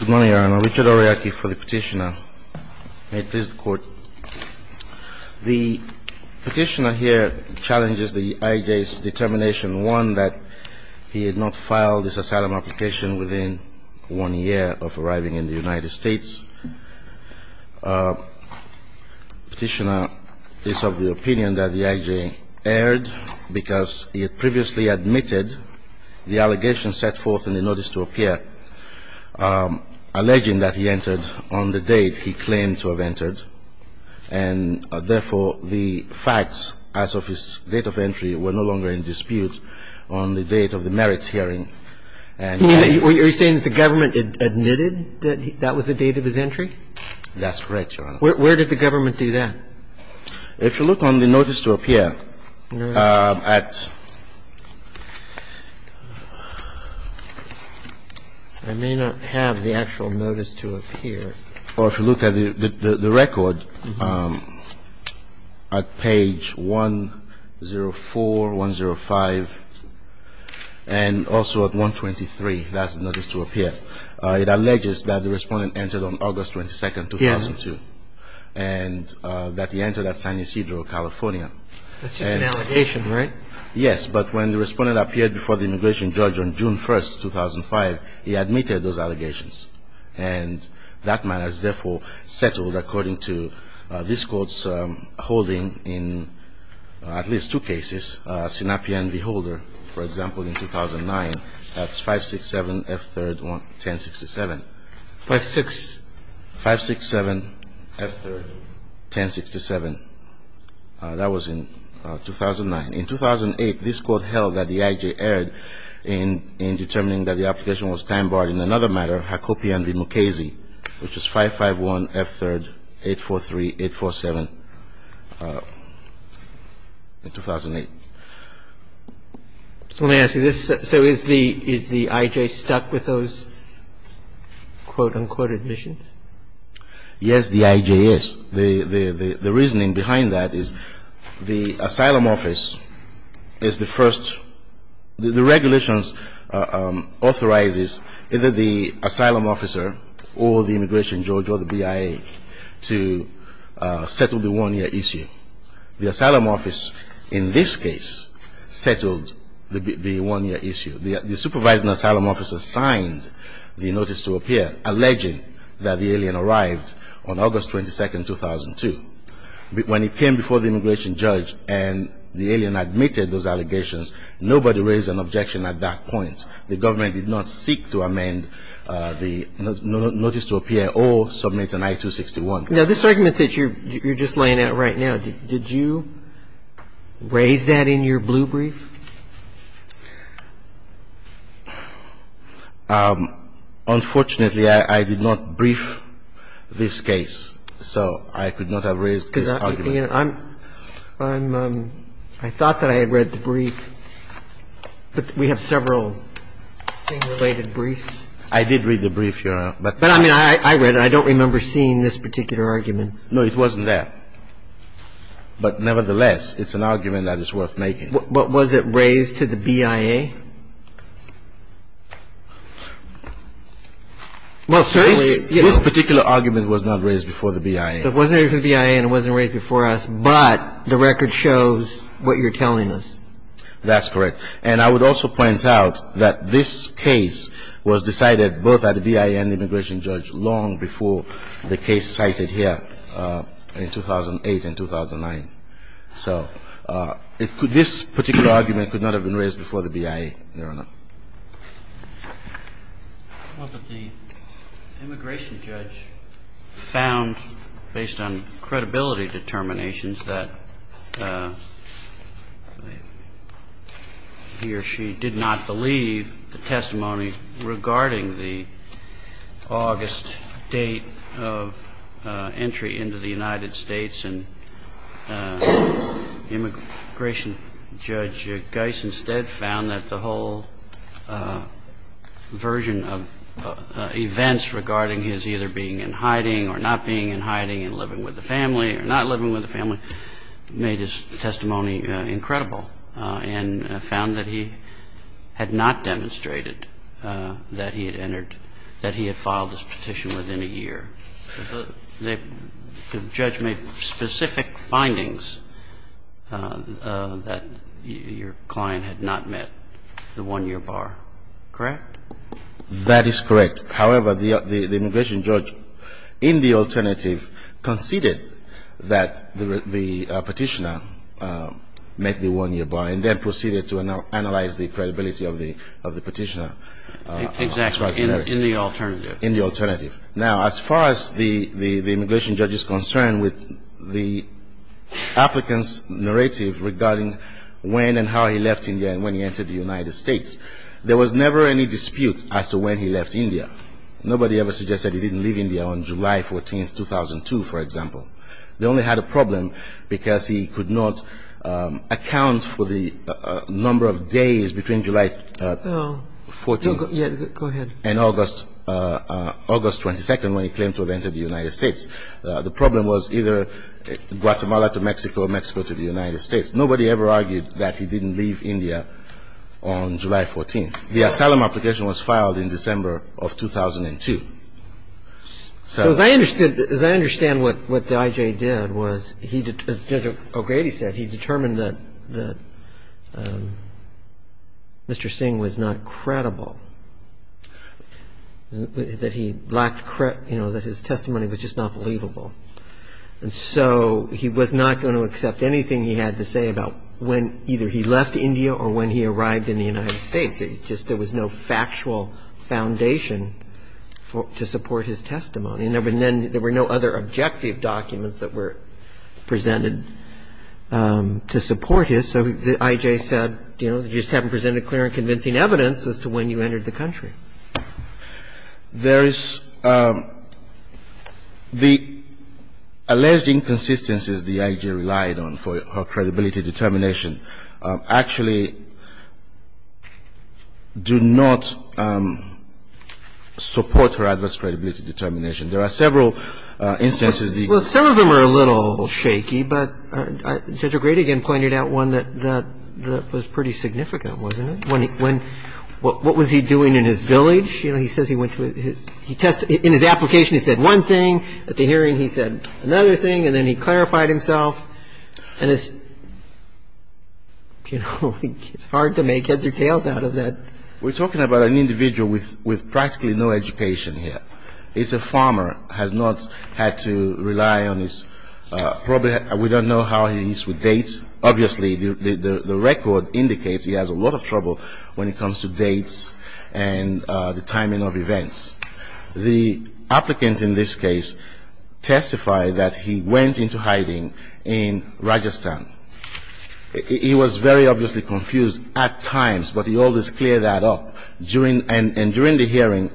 Good morning, Your Honor. Richard Aroyake for the petitioner. May it please the Court. The petitioner here challenges the I.J.'s determination, one, that he had not filed his asylum application within one year of arriving in the United States. Petitioner is of the opinion that the I.J. erred because he had previously admitted the allegations set forth in the notice to appear, alleging that he entered on the date he claimed to have entered, and therefore the facts as of his date of entry were no longer in dispute on the date of the merits hearing. Are you saying that the government admitted that that was the date of his entry? That's correct, Your Honor. Where did the government do that? If you look on the notice to appear at the actual notice to appear, or if you look at the record, at page 104, 105, and also at 123, that's the notice to appear. It alleges that the respondent entered on August 22, 2002, and that he entered at San Ysidro, California. That's just an allegation, right? Yes, but when the respondent appeared before the immigration judge on June 1, 2005, he admitted those allegations. And that matter is therefore settled according to this Court's holding in at least two cases, Sinopi and Beholder. For example, in 2009, that's 567F3-1067. 567F3-1067, that was in 2009. In 2008, this Court held that the I.J. erred in determining that the application was time-barred in another matter, Hakopian v. Mukasey, which is 551F3-843-847 in 2008. So let me ask you this. So is the I.J. stuck with those quote, unquote, admissions? Yes, the I.J. is. The reasoning behind that is the asylum office is the first. The regulations authorizes either the asylum officer or the immigration judge or the BIA to settle the one-year issue. The asylum office in this case settled the one-year issue. The supervising asylum officer signed the notice to appear, alleging that the alien arrived on August 22, 2002. When he came before the immigration judge and the alien admitted those allegations, nobody raised an objection at that point. The government did not seek to amend the notice to appear or submit an I-261. Now, this argument that you're just laying out right now, did you raise that in your blue brief? Unfortunately, I did not brief this case, so I could not have raised this argument. I thought that I had read the brief, but we have several same-related briefs. I did read the brief, Your Honor. But I mean, I read it. I don't remember seeing this particular argument. No, it wasn't there. But nevertheless, it's an argument that is worth making. But was it raised to the BIA? Well, certainly, you know. This particular argument was not raised before the BIA. It wasn't raised to the BIA and it wasn't raised before us, but the record shows what you're telling us. That's correct. And I would also point out that this case was decided both at the BIA and immigration judge long before the case cited here in 2008 and 2009. So this particular argument could not have been raised before the BIA, Your Honor. Well, but the immigration judge found, based on credibility determinations, that he or she did not believe the testimony regarding the August date of entry into the United States, and immigration judge Geis instead found that the whole version of events regarding his either being in hiding or not being in hiding and living with the family or not living with the family made his testimony incredible and found that he had not demonstrated that he had entered, that he had filed his petition within a year. The judge made specific findings that your client had not met the one-year bar. Correct? That is correct. However, the immigration judge, in the alternative, conceded that the petitioner met the one-year bar and then proceeded to analyze the credibility of the petitioner. Exactly. In the alternative. In the alternative. Now, as far as the immigration judge is concerned with the applicant's narrative regarding when and how he left India and when he entered the United States, there was never any dispute as to when he left India. Nobody ever suggested he didn't leave India on July 14th, 2002, for example. They only had a problem because he could not account for the number of days between July 14th and August 22nd when he claimed to have entered the United States. The problem was either Guatemala to Mexico or Mexico to the United States. Nobody ever argued that he didn't leave India on July 14th. The asylum application was filed in December of 2002. So as I understood, as I understand what the I.J. did was he, as Judge O'Grady said, he determined that Mr. Singh was not credible, that he lacked, you know, that his testimony was just not believable. And so he was not going to accept anything he had to say about when either he left India or when he arrived in the United States. It just was no factual foundation to support his testimony. And there were no other objective documents that were presented to support his. So the I.J. said, you know, you just haven't presented clear and convincing evidence as to when you entered the country. There is the alleged inconsistencies the I.J. relied on for her credibility determination actually do not support her adverse credibility determination. There are several instances. Well, some of them are a little shaky, but Judge O'Grady again pointed out one that was pretty significant, wasn't it? When he, when, what was he doing in his village? You know, he says he went to his, he tested, in his application he said one thing, at the hearing he said another thing, and then he clarified himself. And it's, you know, it's hard to make heads or tails out of that. We're talking about an individual with practically no education here. He's a farmer, has not had to rely on his, probably we don't know how he's with dates. Obviously, the record indicates he has a lot of trouble when it comes to dates and the timing of events. The applicant in this case testified that he went into hiding in Rajasthan. He was very obviously confused at times, but he always cleared that up. And during the hearing,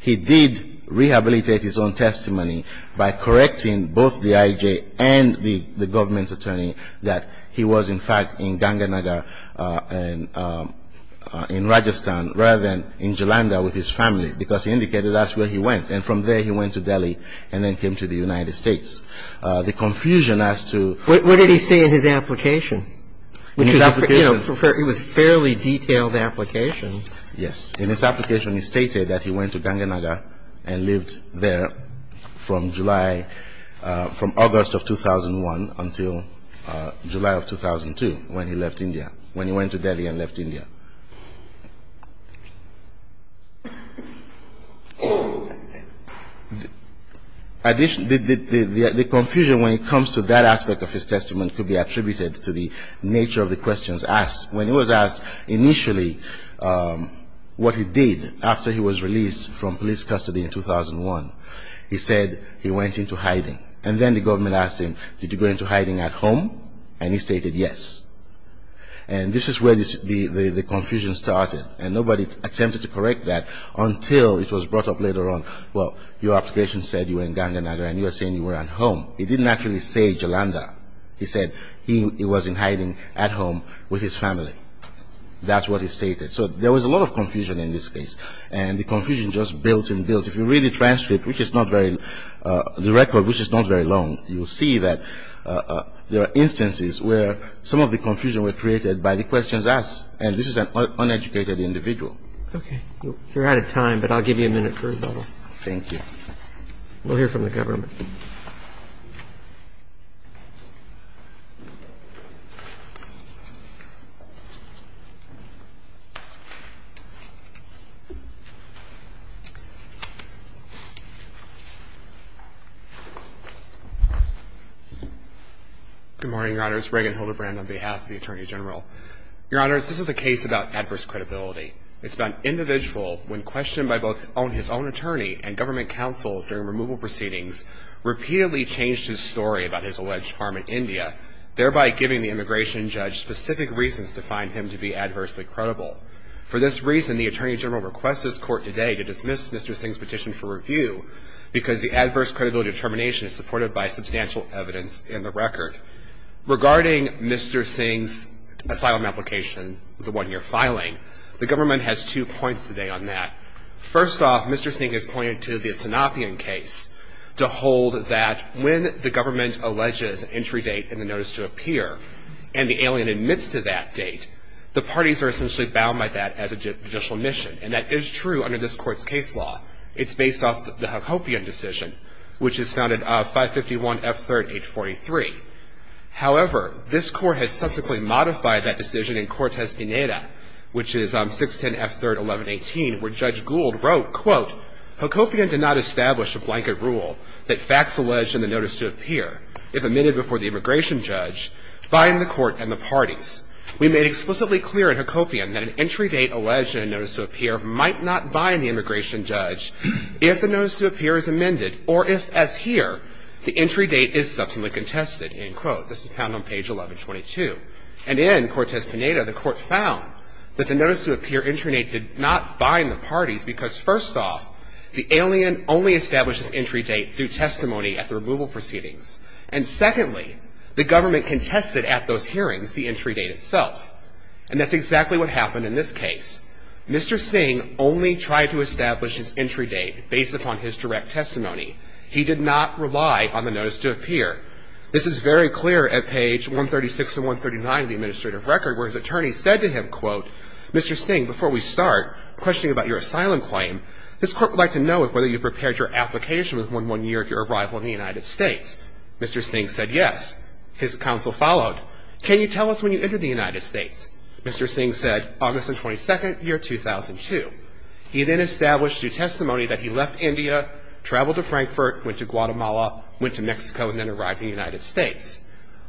he did rehabilitate his own testimony by correcting both the I.J. and the government's attorney that he was, in fact, in Ganga Nagar and in Rajasthan, rather than in Jalandhar with his family, because he indicated that's where he went. And from there he went to Delhi and then came to the United States. The confusion as to What did he say in his application? In his application It was a fairly detailed application. Yes. In his application he stated that he went to Ganga Nagar and lived there from July, from August of 2001 until July of 2002 when he left India, when he went to Delhi and left India. The confusion when it comes to that aspect of his testimony could be attributed to the nature of the questions asked. When he was asked initially what he did after he was released from police custody in 2001, he said he went into hiding. And then the government asked him, did you go into hiding at home? And he stated yes. And this is where the confusion started. And nobody attempted to correct that until it was brought up later on. Well, your application said you were in Ganga Nagar and you were saying you were at home. He didn't actually say Jalandhar. He said he was in hiding at home with his family. That's what he stated. So there was a lot of confusion in this case. And the confusion just built and built. If you read the transcript, which is not very the record, which is not very long, you will see that there are instances where some of the confusion were created by the questions asked. And this is an uneducated individual. Okay. You're out of time, but I'll give you a minute for rebuttal. Thank you. We'll hear from the government. Good morning, Your Honors. Regan Hildebrand on behalf of the Attorney General. Your Honors, this is a case about adverse credibility. It's about an individual when questioned by both his own attorney And this is a case about adverse credibility. repeatedly changed his story about his alleged harm in India, thereby giving the immigration judge specific reasons to find him to be adversely credible. For this reason, the Attorney General requests this court today to dismiss Mr. Singh's petition for review because the adverse credibility determination is supported by substantial evidence in the record. Regarding Mr. Singh's asylum application, the one you're filing, the government has two points today on that. First off, Mr. Singh has pointed to the Sanapian case to hold that when the government alleges an entry date and the notice to appear, and the alien admits to that date, the parties are essentially bound by that as a judicial mission. And that is true under this court's case law. It's based off the Hakopian decision, which is founded of 551 F. 3rd, 843. However, this court has subsequently modified that decision in Cortez Pineda, which is 610 F. 3rd, 1118, where Judge Gould wrote, quote, Hakopian did not establish a blanket rule that facts alleged in the notice to appear, if amended before the immigration judge, bind the court and the parties. We made explicitly clear in Hakopian that an entry date alleged in a notice to appear might not bind the immigration judge if the notice to appear is amended, or if, as here, the entry date is subsequently contested, end quote. This is found on page 1122. And in Cortez Pineda, the court found that the notice to appear entry date did not bind the parties because, first off, the alien only established his entry date through testimony at the removal proceedings. And, secondly, the government contested at those hearings the entry date itself. And that's exactly what happened in this case. Mr. Singh only tried to establish his entry date based upon his direct testimony. He did not rely on the notice to appear. This is very clear at page 136 and 139 of the administrative record, where his attorney said to him, quote, Mr. Singh, before we start questioning about your asylum claim, this court would like to know if whether you prepared your application with one year of your arrival in the United States. Mr. Singh said yes. His counsel followed. Can you tell us when you entered the United States? Mr. Singh said August 22, year 2002. He then established through testimony that he left India, traveled to Frankfurt, went to Guatemala, went to Mexico, and then arrived in the United States.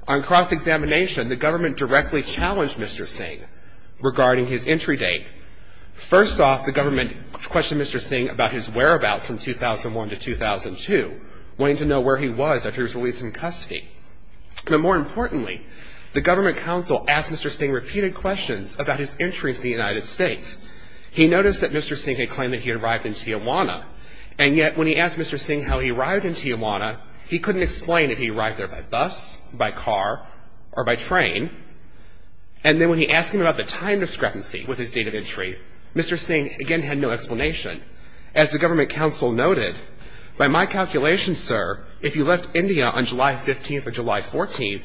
On cross-examination, the government directly challenged Mr. Singh regarding his entry date. First off, the government questioned Mr. Singh about his whereabouts from 2001 to 2002, wanting to know where he was after he was released from custody. But more importantly, the government counsel asked Mr. Singh repeated questions about his entry into the United States. He noticed that Mr. Singh had claimed that he had arrived in Tijuana, and yet when he asked Mr. Singh how he arrived in Tijuana, he couldn't explain if he arrived there by bus, by car, or by train. And then when he asked him about the time discrepancy with his date of entry, Mr. Singh again had no explanation. As the government counsel noted, by my calculation, sir, if you left India on July 15th or July 14th,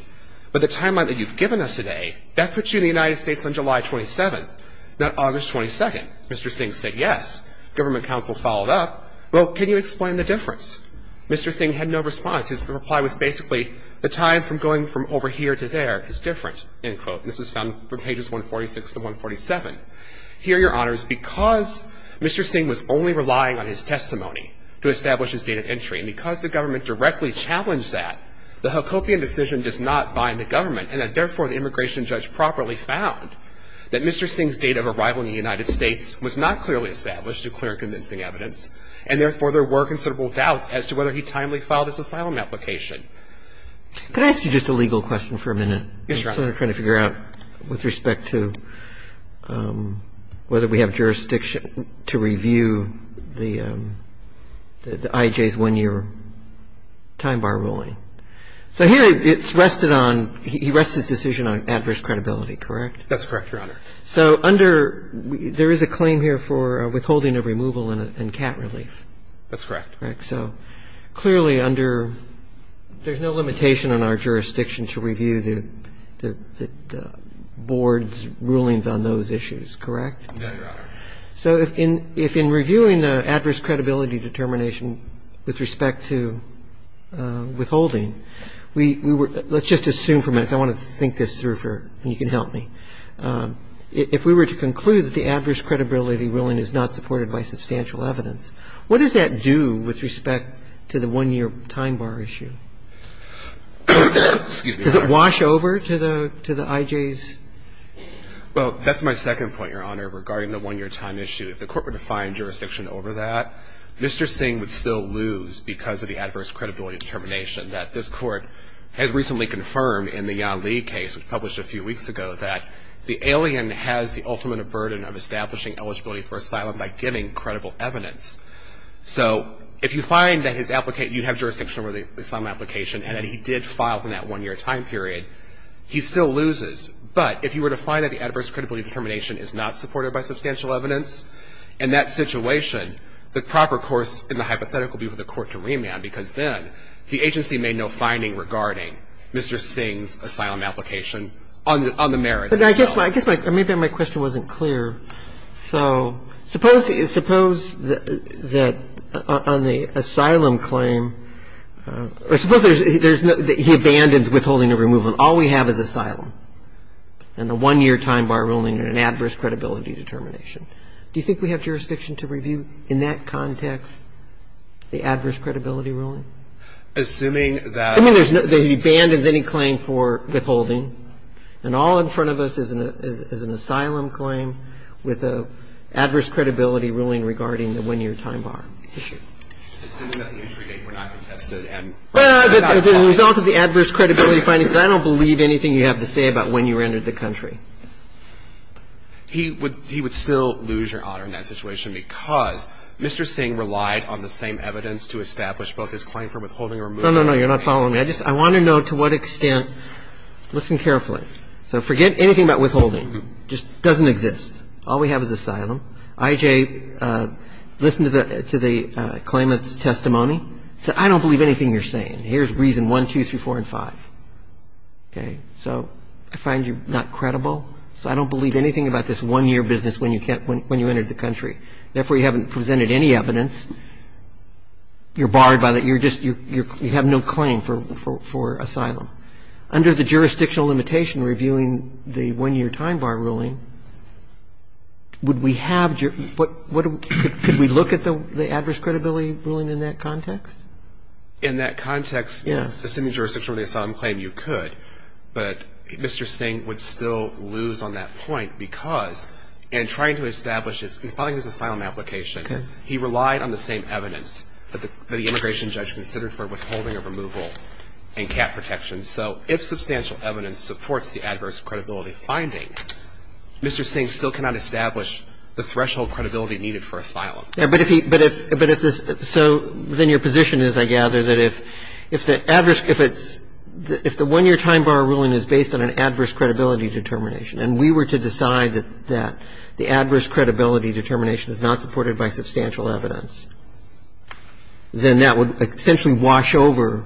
by the timeline that you've given us today, that puts you in the United States on July 27th, not August 22nd. Mr. Singh said yes. Government counsel followed up. Well, can you explain the difference? Mr. Singh had no response. His reply was basically the time from going from over here to there is different, end quote. And this is found from pages 146 to 147. Here, Your Honors, because Mr. Singh was only relying on his testimony to establish his date of entry, and because the government directly challenged that, the Hacopian decision does not bind the government, and that therefore the immigration judge properly found that Mr. Singh's date of arrival in the United States was not clearly established through clear and convincing evidence, and therefore there were considerable doubts as to whether he timely filed his asylum application. Could I ask you just a legal question for a minute? Yes, Your Honor. I'm trying to figure out with respect to whether we have jurisdiction to review the IJ's one-year time bar ruling. So here it's rested on – he rests his decision on adverse credibility, correct? That's correct, Your Honor. So under – there is a claim here for withholding of removal and cat relief. That's correct. Correct. So clearly under – there's no limitation on our jurisdiction to review the Board's rulings on those issues, correct? No, Your Honor. So if in reviewing the adverse credibility determination with respect to withholding, we were – let's just assume for a minute. I want to think this through for – and you can help me. If we were to conclude that the adverse credibility ruling is not supported by substantial evidence, what does that do with respect to the one-year time bar issue? Does it wash over to the – to the IJ's? Well, that's my second point, Your Honor, regarding the one-year time issue. If the Court were to find jurisdiction over that, Mr. Singh would still lose because of the adverse credibility determination that this Court has recently confirmed in the Yan Lee case, which was published a few weeks ago, that the alien has the ultimate burden of establishing eligibility for asylum by giving credible evidence. So if you find that his – you have jurisdiction over the asylum application and that he did file in that one-year time period, he still loses. But if you were to find that the adverse credibility determination is not supported by substantial evidence, in that situation, the proper course in the hypothetical would be for the Court to remand because then the agency made no finding regarding Mr. Singh's asylum application on the merits itself. But I guess my – maybe my question wasn't clear. So suppose – suppose that on the asylum claim – or suppose there's – he abandons withholding a removal. All we have is asylum and the one-year time bar ruling and an adverse credibility determination. Do you think we have jurisdiction to review in that context the adverse credibility ruling? Assuming that – Assuming there's no – that he abandons any claim for withholding and all in front of us is an asylum claim with an adverse credibility ruling regarding the one-year time bar issue. Assuming that the entry date were not contested and – Well, the result of the adverse credibility finding says I don't believe anything you have to say about when you entered the country. He would – he would still lose your honor in that situation because Mr. Singh relied on the same evidence to establish both his claim for withholding or removal. No, no, no. You're not following me. I just – I want to know to what extent – listen carefully. So forget anything about withholding. It just doesn't exist. All we have is asylum. I.J., listen to the claimant's testimony. Say, I don't believe anything you're saying. Here's reason one, two, three, four, and five. Okay? So I find you not credible, so I don't believe anything about this one-year business when you entered the country. Therefore, you haven't presented any evidence. You're barred by that. You're just – you have no claim for asylum. Under the jurisdictional limitation reviewing the one-year time bar ruling, would we have – could we look at the adverse credibility ruling in that context? In that context, assuming jurisdictional asylum claim, you could, but Mr. Singh would still lose on that point because in trying to establish his – in filing his asylum application, he relied on the same evidence that the immigration judge considered for withholding or removal and cap protection. So if substantial evidence supports the adverse credibility finding, Mr. Singh still cannot establish the threshold credibility needed for asylum. But if he – but if this – so then your position is, I gather, that if the adverse – if it's – if the one-year time bar ruling is based on an adverse credibility determination and we were to decide that the adverse credibility determination is not supported by substantial evidence, then that would essentially wash over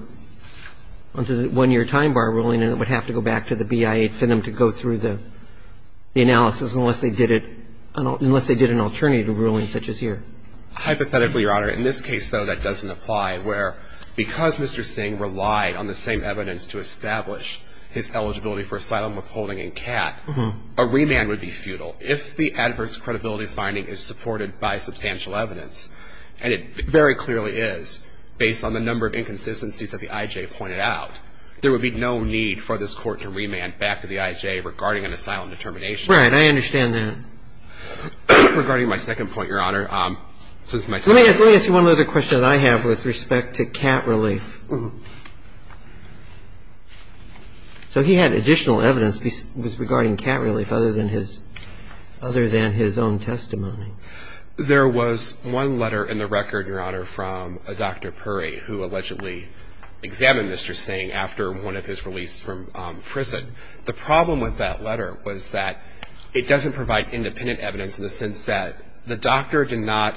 onto the one-year time bar ruling and it would have to go back to the BIA for them to go through the analysis unless they did it – unless they did an alternative ruling such as here. Hypothetically, Your Honor, in this case, though, that doesn't apply, where because Mr. Singh relied on the same evidence to establish his eligibility for asylum withholding and cap, a remand would be futile. If the adverse credibility finding is supported by substantial evidence, and it very clearly is based on the number of inconsistencies that the IJ pointed out, there would be no need for this Court to remand back to the IJ regarding an asylum determination. Right. I understand that. Regarding my second point, Your Honor, since my time is up. Let me ask you one other question that I have with respect to cap relief. So he had additional evidence regarding cap relief other than his own testimony. There was one letter in the record, Your Honor, from Dr. Puri, who allegedly examined Mr. Singh after one of his release from prison. The problem with that letter was that it doesn't provide independent evidence in the sense that the doctor did not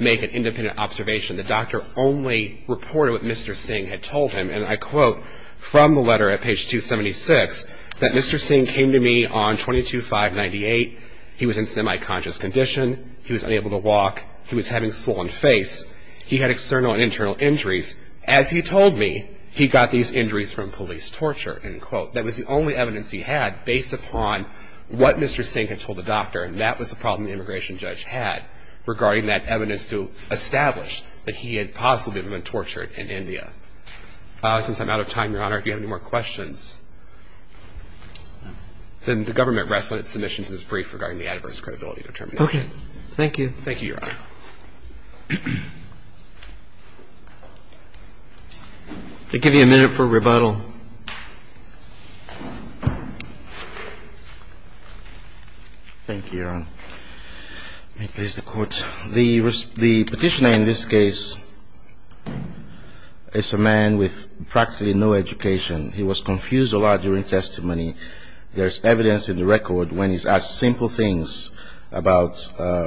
make an independent observation. The doctor only reported what Mr. Singh had told him. And I quote from the letter at page 276 that Mr. Singh came to me on 22-5-98. He was in semi-conscious condition. He was unable to walk. He was having a swollen face. He had external and internal injuries. As he told me, he got these injuries from police torture, end quote. That was the only evidence he had based upon what Mr. Singh had told the doctor, and that was the problem the immigration judge had regarding that evidence to establish that he had possibly been tortured in India. Since I'm out of time, Your Honor, do you have any more questions? Then the government rests on its submission to this brief regarding the adverse credibility determination. Okay. Thank you. Thank you, Your Honor. I'll give you a minute for rebuttal. Thank you, Your Honor. May it please the Court. The Petitioner in this case is a man with practically no education. He was confused a lot during testimony. There's evidence in the record when he's asked simple things about,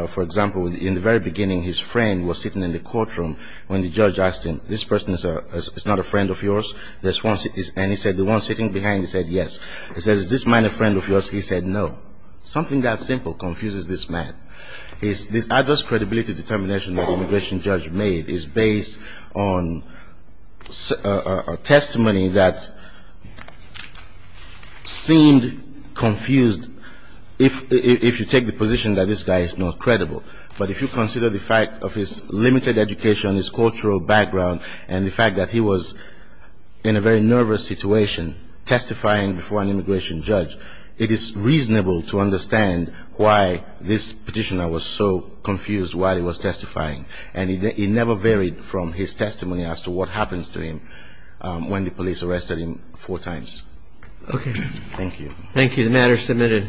for example, in the very beginning his friend was sitting in the courtroom when the judge asked him, this person is not a friend of yours? And he said, the one sitting behind, he said, yes. He says, is this man a friend of yours? He said, no. Something that simple confuses this man. This adverse credibility determination that the immigration judge made is based on testimony that seemed confused if you take the position that this guy is not credible. But if you consider the fact of his limited education, his cultural background, and the fact that he was in a very nervous situation testifying before an immigration judge, it is reasonable to understand why this Petitioner was so confused while he was testifying. And it never varied from his testimony as to what happens to him when the police arrested him four times. Okay. Thank you. Thank you. The matter is submitted.